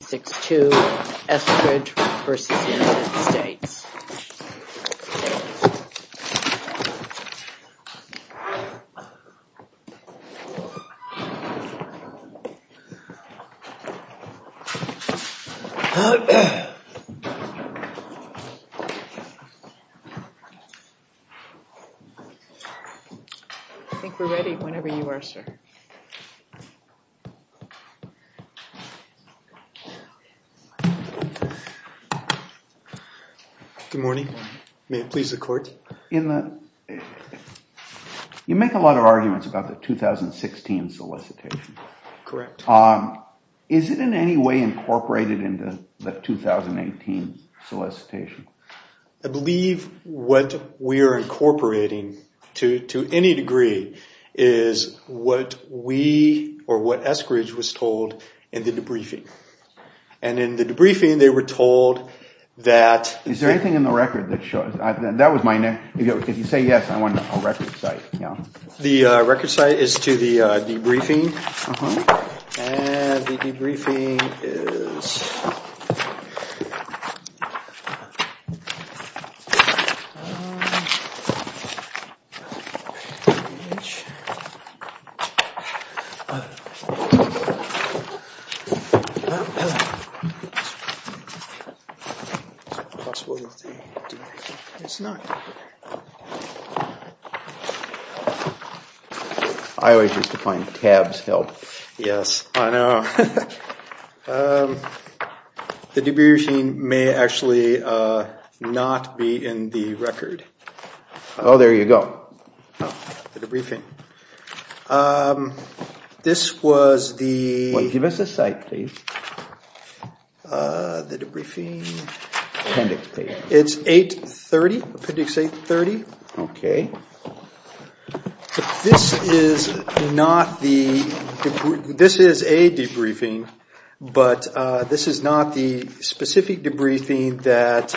I think we're ready whenever you are, sir. Good morning. May it please the court. You make a lot of arguments about the 2016 solicitation. Correct. Is it in any way incorporated into the 2018 solicitation? I believe what we are incorporating to any degree is what we or what Eskridge was told in the debriefing. And in the debriefing they were told that... Is there anything in the record that shows... that was my next... if you say yes, I want a record site. The record site is to the debriefing. And the debriefing is... I always used to find tabs help. Yes, I know. The debriefing may actually not be in the record. Oh, there you go. The debriefing. This was the... Give us a site, please. The debriefing... Appendix, please. It's 830. Appendix 830. Okay. This is not the... this is a debriefing, but this is not the specific debriefing that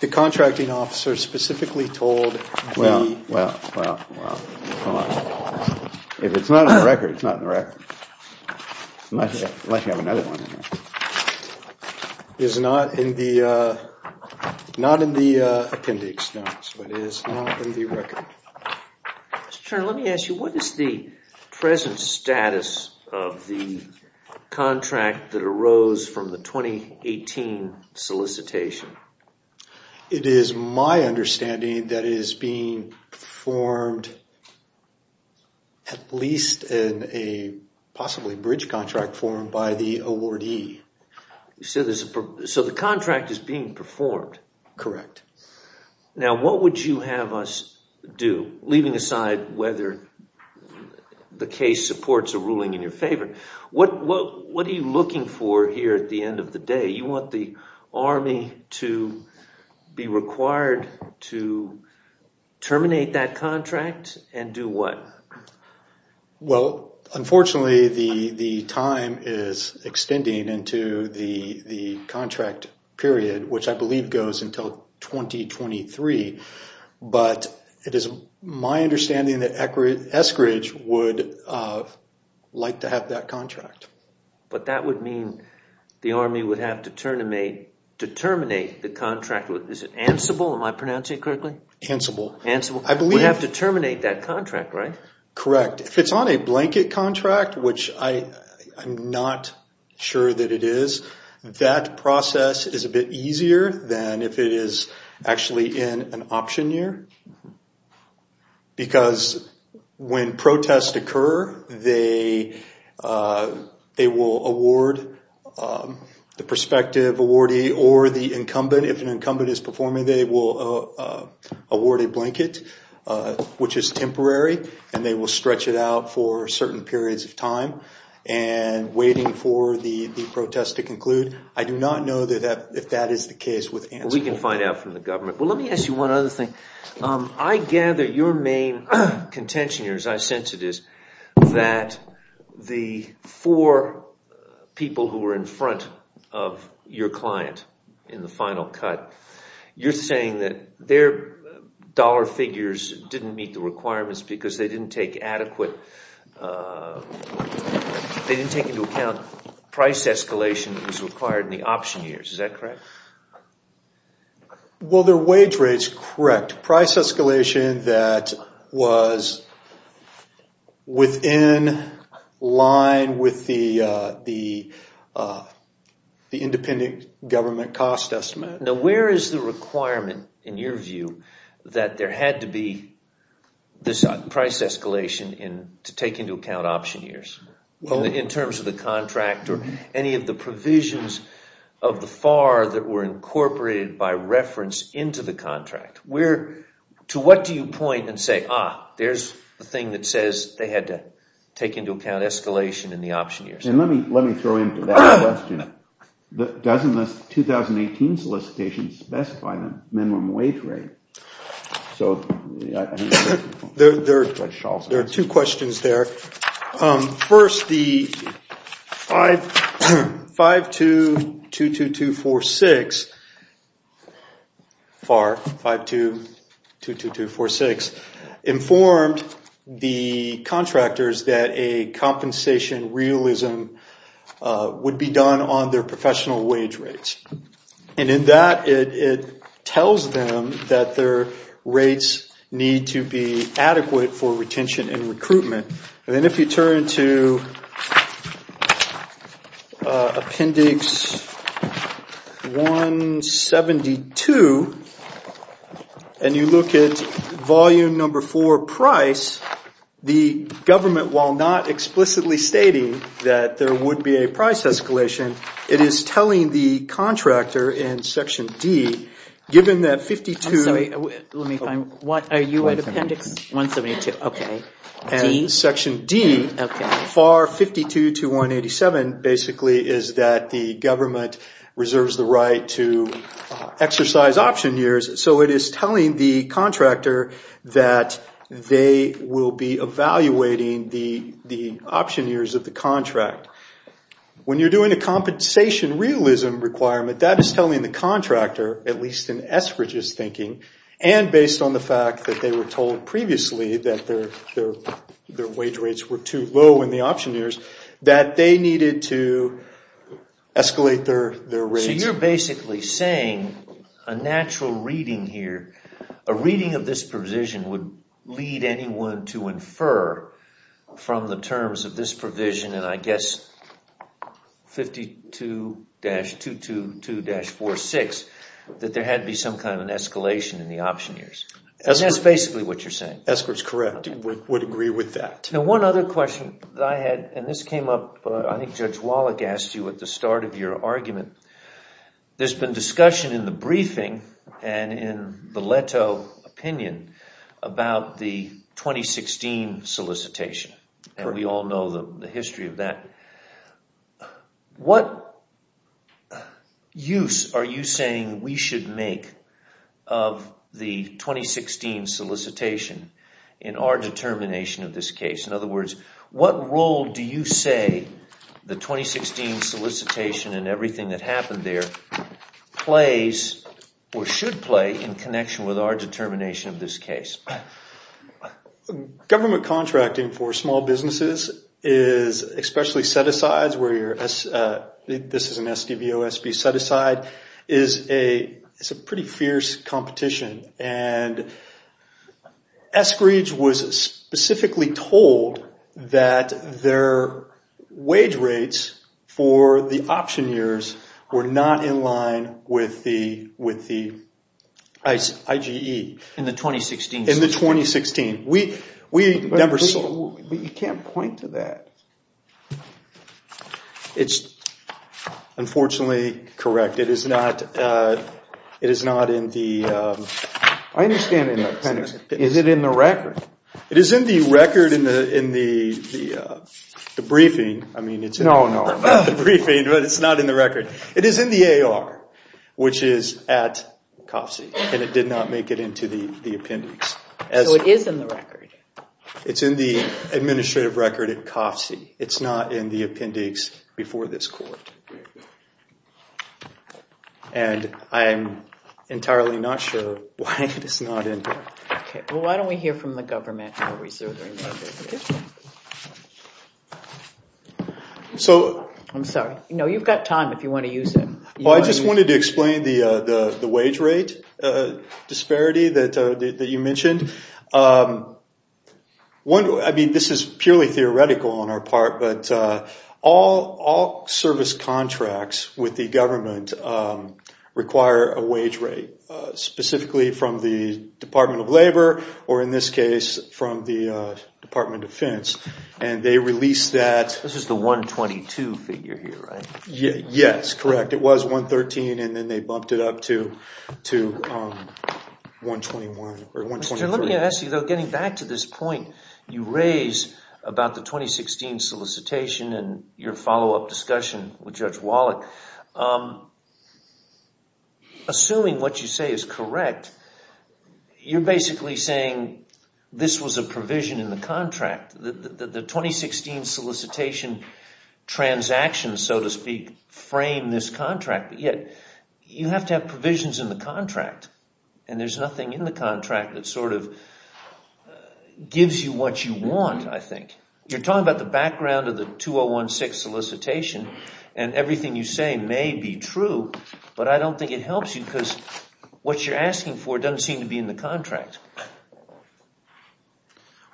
the contracting officer specifically told the... Well, well, well, well. If it's not in the record, it's not in the record. Unless you have another one in there. It's not in the... Not in the appendix, no. So it is not in the record. Mr. Turner, let me ask you, what is the present status of the contract that arose from the 2018 solicitation? It is my understanding that it is being performed at least in a possibly bridge contract form by the awardee. So the contract is being performed? Correct. Now, what would you have us do, leaving aside whether the case supports a ruling in your favor? What are you looking for here at the end of the day? You want the Army to be required to terminate that contract and do what? Well, unfortunately, the time is extending into the contract period, which I believe goes until 2023. But it is my understanding that Eskridge would like to have that contract. But that would mean the Army would have to terminate the contract. Is it ansible? Am I pronouncing it correctly? Ansible. Ansible. We have to terminate that contract, right? Correct. If it's on a blanket contract, which I'm not sure that it is, that process is a bit easier than if it is actually in an option year. Because when protests occur, they will award the prospective awardee or the incumbent. If an incumbent is performing, they will award a blanket, which is temporary, and they will stretch it out for certain periods of time and waiting for the protest to conclude. I do not know if that is the case with Ansible. We can find out from the government. Well, let me ask you one other thing. I gather your main contention here, as I sense it is, that the four people who were in front of your client in the final cut, you're saying that their dollar figures didn't meet the requirements because they didn't take into account price escalation that was required in the option years. Is that correct? Well, their wage rate is correct. Price escalation that was within line with the independent government cost estimate. Now, where is the requirement, in your view, that there had to be this price escalation to take into account option years? In terms of the contract or any of the provisions of the FAR that were incorporated by reference into the contract. To what do you point and say, ah, there's the thing that says they had to take into account escalation in the option years? Let me throw in to that question. Doesn't the 2018 solicitation specify the minimum wage rate? There are two questions there. First, the 5222246, FAR 5222246, informed the contractors that a compensation realism would be done on their professional wage rates. And in that, it tells them that their rates need to be adequate for retention and recruitment. And then if you turn to appendix 172, and you look at volume number four, price, the government, while not explicitly stating that there would be a price escalation, it is telling the contractor in section D, given that 52- I'm sorry, let me find, what, are you at appendix 172? And section D, FAR 522187, basically is that the government reserves the right to exercise option years, so it is telling the contractor that they will be evaluating the option years of the contract. When you're doing a compensation realism requirement, that is telling the contractor, at least in Eskridge's thinking, and based on the fact that they were told previously that their wage rates were too low in the option years, that they needed to escalate their rates. So you're basically saying a natural reading here, a reading of this provision would lead anyone to infer from the terms of this provision, and I guess 52-222-46, that there had to be some kind of an escalation in the option years. That's basically what you're saying. Eskridge is correct, would agree with that. Now one other question that I had, and this came up, I think Judge Wallach asked you at the start of your argument, there's been discussion in the briefing and in the Leto opinion about the 2016 solicitation. We all know the history of that. What use are you saying we should make of the 2016 solicitation in our determination of this case? In other words, what role do you say the 2016 solicitation and everything that happened there plays, or should play, in connection with our determination of this case? Government contracting for small businesses, especially set-asides, this is an SDVOSB set-aside, is a pretty fierce competition. And Eskridge was specifically told that their wage rates for the option years were not in line with the IGE. In the 2016 solicitation? In the 2016. You can't point to that. It's unfortunately correct. It is not in the... I understand in the appendix. Is it in the record? It is in the record in the briefing. No, no, not the briefing, but it's not in the record. It is in the AR, which is at Coffsie, and it did not make it into the appendix. So it is in the record? It's in the administrative record at Coffsie. It's not in the appendix before this court. And I'm entirely not sure why it is not in there. Okay, well, why don't we hear from the government? So... I'm sorry. No, you've got time if you want to use it. Well, I just wanted to explain the wage rate disparity that you mentioned. I mean, this is purely theoretical on our part, but all service contracts with the government require a wage rate, specifically from the Department of Labor or, in this case, from the Department of Defense. And they release that... Yes, correct. It was $113,000, and then they bumped it up to $123,000. Let me ask you, though. Getting back to this point you raised about the 2016 solicitation and your follow-up discussion with Judge Wallach, assuming what you say is correct, you're basically saying this was a provision in the contract. The 2016 solicitation transactions, so to speak, frame this contract, but yet you have to have provisions in the contract, and there's nothing in the contract that sort of gives you what you want, I think. You're talking about the background of the 2016 solicitation, and everything you say may be true, but I don't think it helps you because what you're asking for doesn't seem to be in the contract.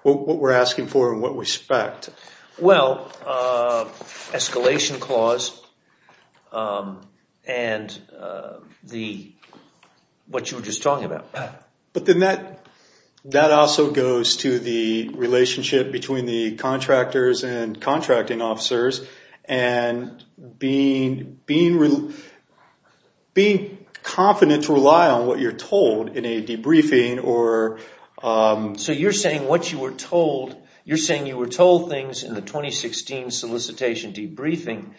What we're asking for and what we expect? Well, escalation clause and what you were just talking about. But then that also goes to the relationship between the contractors and contracting officers and being confident to rely on what you're told in a debriefing. So you're saying you were told things in the 2016 solicitation debriefing,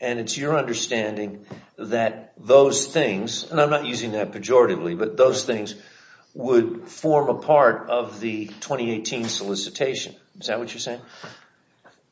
and it's your understanding that those things, and I'm not using that pejoratively, but those things would form a part of the 2018 solicitation. Is that what you're saying?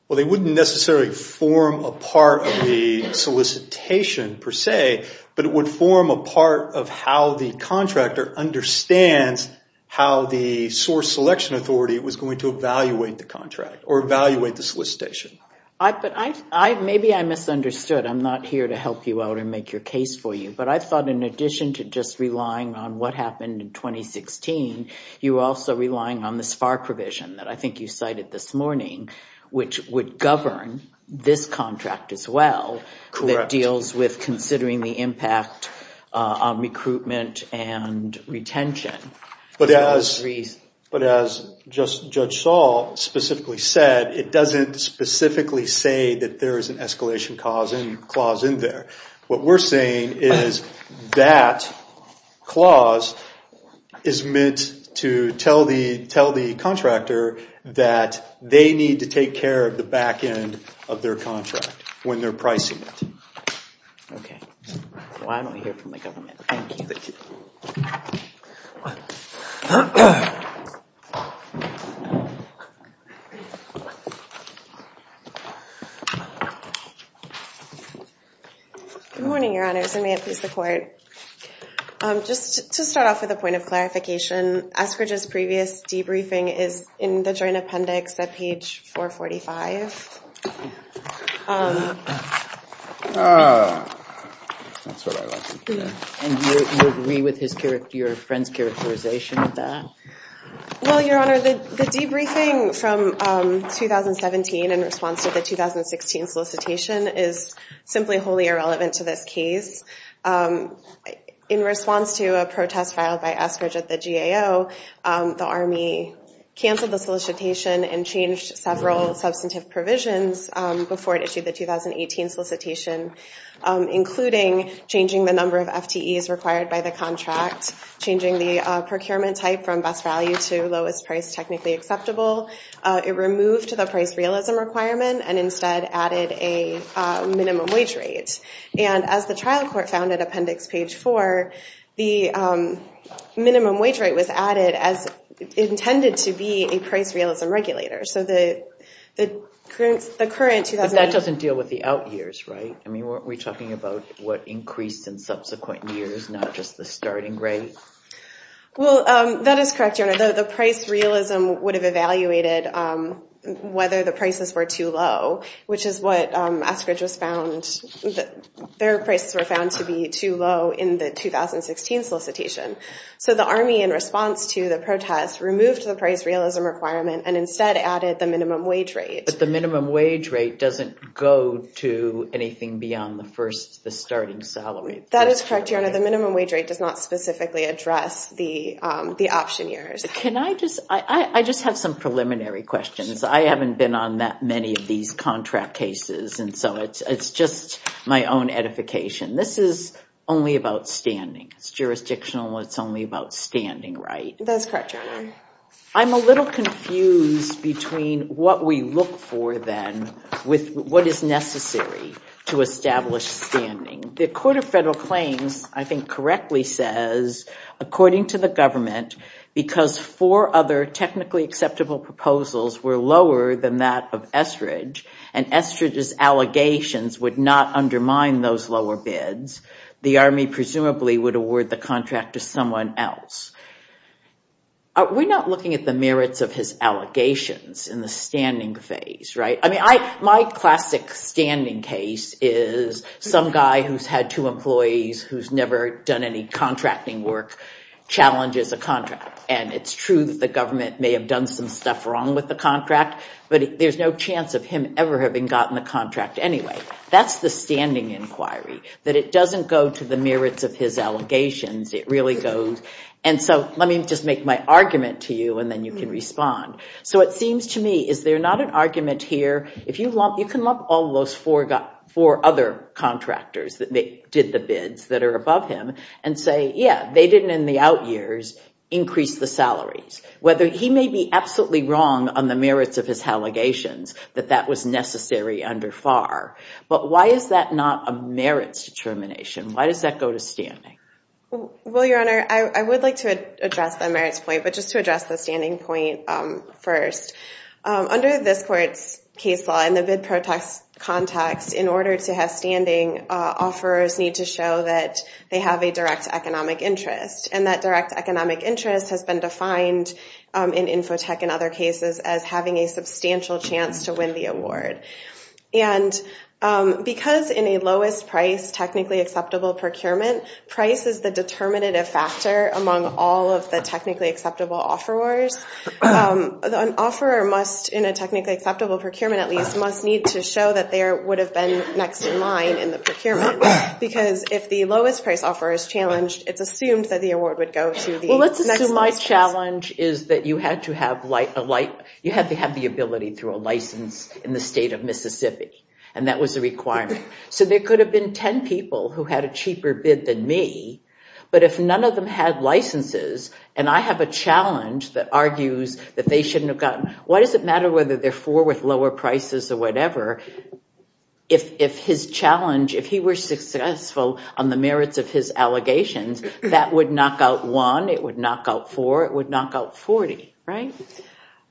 Well, they wouldn't necessarily form a part of the solicitation per se, but it would form a part of how the contractor understands how the source selection authority was going to evaluate the contract or evaluate the solicitation. But maybe I misunderstood. I'm not here to help you out or make your case for you, but I thought in addition to just relying on what happened in 2016, you were also relying on the SPAR provision that I think you cited this morning, which would govern this contract as well, that deals with considering the impact on recruitment and retention. But as Judge Saul specifically said, it doesn't specifically say that there is an escalation clause in there. What we're saying is that clause is meant to tell the contractor that they need to take care of the back end of their contract when they're pricing it. Okay. Well, I don't hear from the government. Thank you. Thank you. Good morning, Your Honors, and may it please the Court. Just to start off with a point of clarification, Eskridge's previous debriefing is in the joint appendix at page 445. And you agree with your friend's characterization of that? Well, Your Honor, the debriefing from 2017 in response to the 2016 solicitation is simply wholly irrelevant to this case. In response to a protest filed by Eskridge at the GAO, the Army canceled the solicitation and changed several substantive provisions before it issued the 2018 solicitation, including changing the number of FTEs required by the contract, changing the procurement type from best value to lowest price technically acceptable. It removed the price realism requirement and instead added a minimum wage rate. And as the trial court found at appendix page 4, the minimum wage rate was added as intended to be a price realism regulator. So the current 2018- But that doesn't deal with the out years, right? I mean, weren't we talking about what increased in subsequent years, Well, that is correct, Your Honor. The price realism would have evaluated whether the prices were too low, which is what Eskridge has found. Their prices were found to be too low in the 2016 solicitation. So the Army, in response to the protest, removed the price realism requirement and instead added the minimum wage rate. But the minimum wage rate doesn't go to anything beyond the starting salary. That is correct, Your Honor. The minimum wage rate does not specifically address the option years. Can I just- I just have some preliminary questions. I haven't been on that many of these contract cases, and so it's just my own edification. This is only about standing. It's jurisdictional. It's only about standing, right? That is correct, Your Honor. I'm a little confused between what we look for then with what is necessary to establish standing. The Court of Federal Claims, I think, correctly says, according to the government, because four other technically acceptable proposals were lower than that of Eskridge, and Eskridge's allegations would not undermine those lower bids, the Army presumably would award the contract to someone else. We're not looking at the merits of his allegations in the standing phase, right? I mean, my classic standing case is some guy who's had two employees who's never done any contracting work challenges a contract, and it's true that the government may have done some stuff wrong with the contract, but there's no chance of him ever having gotten the contract anyway. That's the standing inquiry, that it doesn't go to the merits of his allegations. It really goes- and so let me just make my argument to you, and then you can respond. So it seems to me, is there not an argument here? You can lump all those four other contractors that did the bids that are above him and say, yeah, they didn't in the out years increase the salaries, whether he may be absolutely wrong on the merits of his allegations that that was necessary under FAR. But why is that not a merits determination? Why does that go to standing? Well, Your Honor, I would like to address the merits point, but just to address the standing point first. Under this court's case law, in the bid context, in order to have standing, offerors need to show that they have a direct economic interest, and that direct economic interest has been defined in Infotech and other cases as having a substantial chance to win the award. And because in a lowest price, technically acceptable procurement, price is the determinative factor among all of the technically acceptable offerors. An offeror must, in a technically acceptable procurement at least, must need to show that there would have been next in line in the procurement, because if the lowest price offeror is challenged, it's assumed that the award would go to the next in line. Well, let's assume my challenge is that you had to have the ability through a license in the state of Mississippi, and that was a requirement. So there could have been 10 people who had a cheaper bid than me, but if none of them had licenses, and I have a challenge that argues that they shouldn't have gotten, why does it matter whether they're four with lower prices or whatever, if his challenge, if he were successful on the merits of his allegations, that would knock out one, it would knock out four, it would knock out 40, right?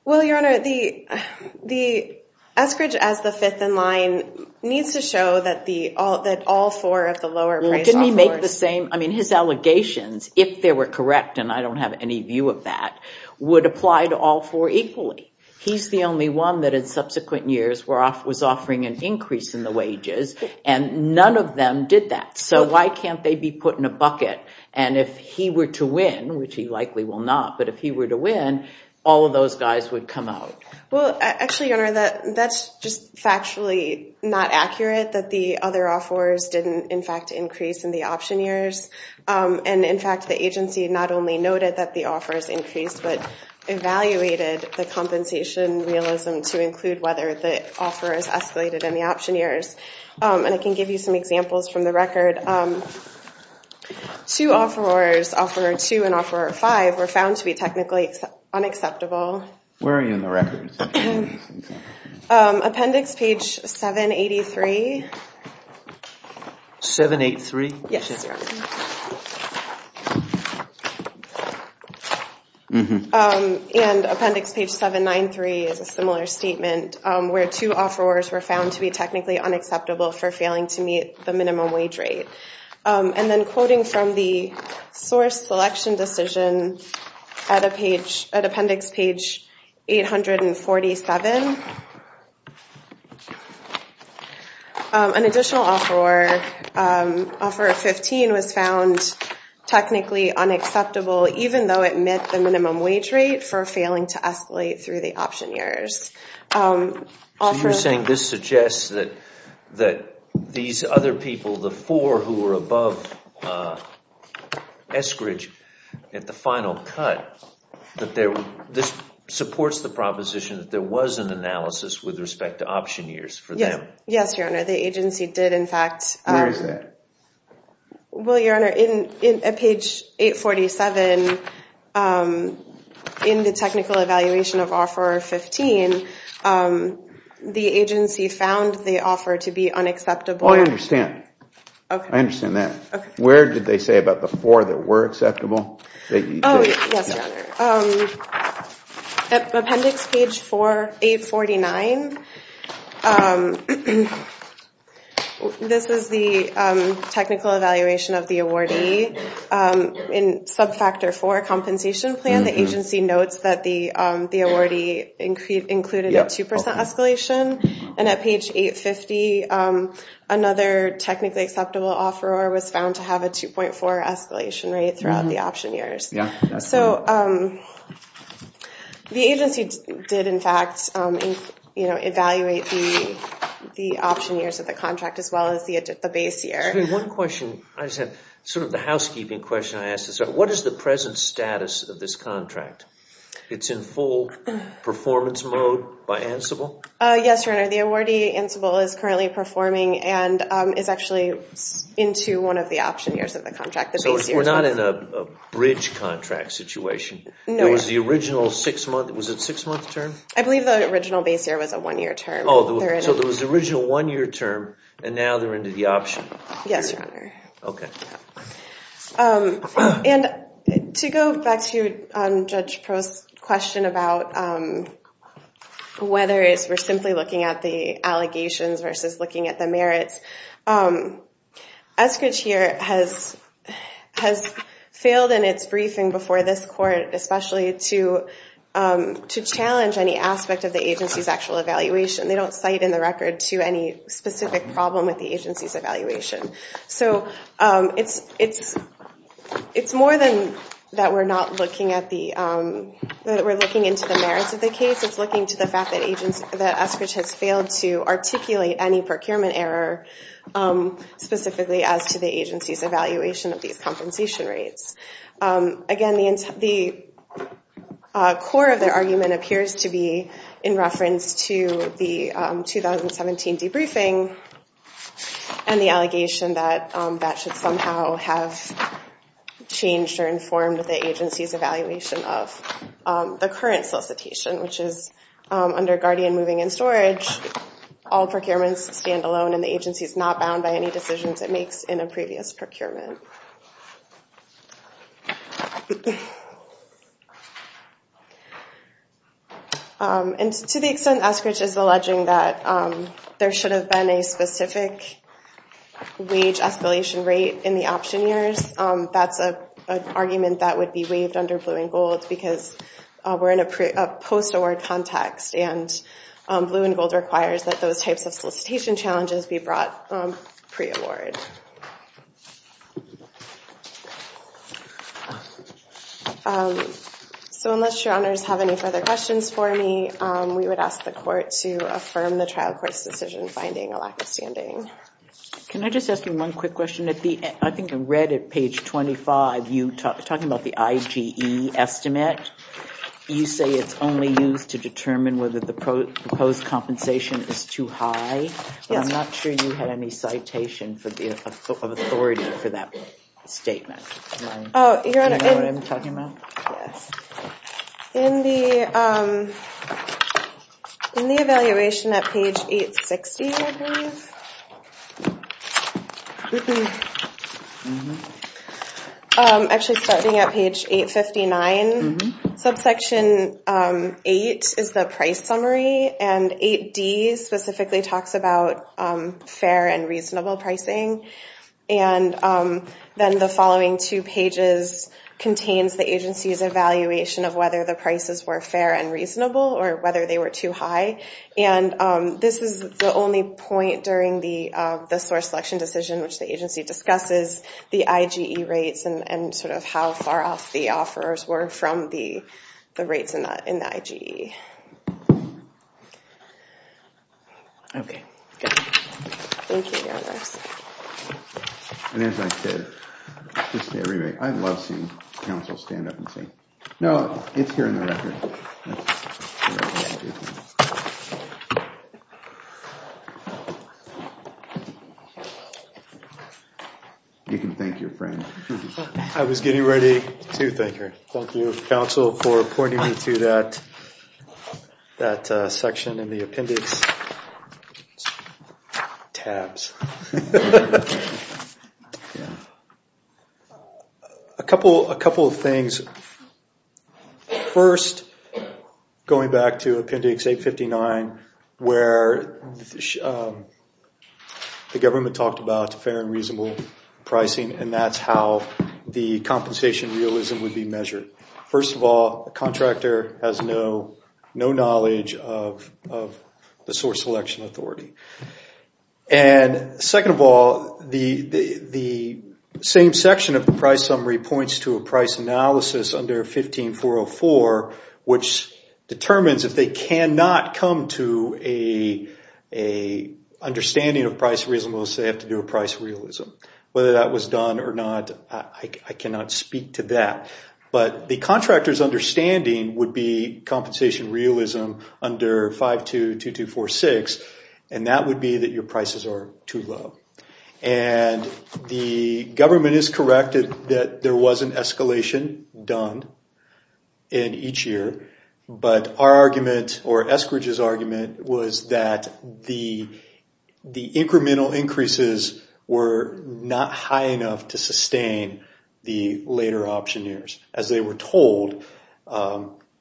Well, Your Honor, the Eskridge as the fifth in line needs to show that all four of the lower price offerors... Didn't he make the same, I mean, his allegations, if they were correct, and I don't have any view of that, would apply to all four equally. He's the only one that in subsequent years was offering an increase in the wages, and none of them did that. So why can't they be put in a bucket? And if he were to win, which he likely will not, but if he were to win, all of those guys would come out. Well, actually, Your Honor, that's just factually not accurate, that the other offerors didn't, in fact, increase in the option years. And, in fact, the agency not only noted that the offers increased, but evaluated the compensation realism to include whether the offerors escalated in the option years. And I can give you some examples from the record. Two offerors, Offeror 2 and Offeror 5, were found to be technically unacceptable. Where are you in the record? Appendix page 783. 783? Yes, Your Honor. And Appendix page 793 is a similar statement, where two offerors were found to be technically unacceptable for failing to meet the minimum wage rate. And then quoting from the source selection decision at Appendix page 847, an additional offeror, Offeror 15, was found technically unacceptable, even though it met the minimum wage rate, for failing to escalate through the option years. So you're saying this suggests that these other people, the four who were above Eskridge at the final cut, that this supports the proposition that there was an analysis with respect to option years for them? Yes, Your Honor. The agency did, in fact. Where is that? Well, Your Honor, at page 847, in the technical evaluation of Offeror 15, the agency found the offer to be unacceptable. Oh, I understand. I understand that. Where did they say about the four that were acceptable? Oh, yes, Your Honor. At Appendix page 849, this is the technical evaluation of the awardee, in subfactor four compensation plan, the agency notes that the awardee included a 2% escalation. And at page 850, another technically acceptable offeror was found to have a 2.4% escalation rate throughout the option years. So the agency did, in fact, evaluate the option years of the contract, as well as the base year. One question. Sort of the housekeeping question I asked. What is the present status of this contract? It's in full performance mode by Ansible? Yes, Your Honor. The awardee, Ansible, is currently performing and is actually into one of the option years of the contract. So we're not in a bridge contract situation? No. It was the original six-month term? I believe the original base year was a one-year term. So it was the original one-year term, and now they're into the option year? Yes, Your Honor. Okay. And to go back to Judge Prost's question about whether we're simply looking at the allegations versus looking at the merits, Eskridge here has failed in its briefing before this court, especially to challenge any aspect of the agency's actual evaluation. They don't cite in the record to any specific problem with the agency's evaluation. So it's more than that we're looking into the merits of the case. It's looking to the fact that Eskridge has failed to articulate any procurement error, specifically as to the agency's evaluation of these compensation rates. Again, the core of their argument appears to be in reference to the 2017 debriefing and the allegation that that should somehow have changed or informed the agency's evaluation of the current solicitation, which is under Guardian Moving and Storage, all procurements stand alone and the agency's not bound by any decisions it makes in a previous procurement. And to the extent Eskridge is alleging that there should have been a specific wage escalation rate in the option years, that's an argument that would be waived under blue and gold because we're in a post-award context and blue and gold requires that those types of solicitation challenges be brought pre-award. So unless your honors have any further questions for me, we would ask the court to affirm the trial court's decision finding a lack of standing. Can I just ask you one quick question? I think I read at page 25, you talking about the IGE estimate. You say it's only used to determine whether the proposed compensation is too high. I'm not sure you had any citation for that. The authority for that statement. Do you know what I'm talking about? In the evaluation at page 860, I believe, actually starting at page 859, subsection 8 is the price summary and 8D specifically talks about fair and reasonable pricing. Then the following two pages contains the agency's evaluation of whether the prices were fair and reasonable or whether they were too high. This is the only point during the source selection decision which the agency discusses the IGE rates and how far off the offers were from the rates in the IGE. Thank you, Your Honor. And as I said, I love seeing counsel stand up and say, no, it's here in the record. You can thank your friend. I was getting ready to thank her. Thank you, counsel, for pointing me to that section in the appendix. Tabs. A couple of things. First, going back to appendix 859 where the government talked about fair and reasonable pricing and that's how the compensation realism would be measured. First of all, a contractor has no knowledge of the source selection authority. And second of all, the same section of the price summary points to a price analysis under 15404 which determines if they cannot come to an understanding of price realism unless they have to do a price realism. Whether that was done or not, I cannot speak to that. But the contractor's understanding would be compensation realism under 522246 and that would be that your prices are too low. And the government is correct that there was an escalation done in each year. But our argument or Eskridge's argument was that the incremental increases were not high enough to sustain the later option years. As they were told,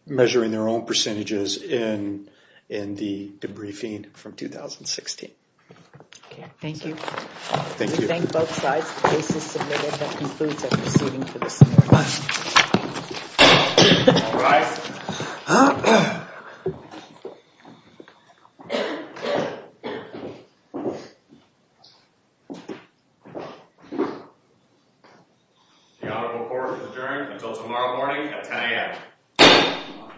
measuring their own percentages in the debriefing from 2016. Thank you. We thank both sides. The case is submitted. That concludes our proceeding for this morning. All rise. The honorable court is adjourned until tomorrow morning at 10 a.m.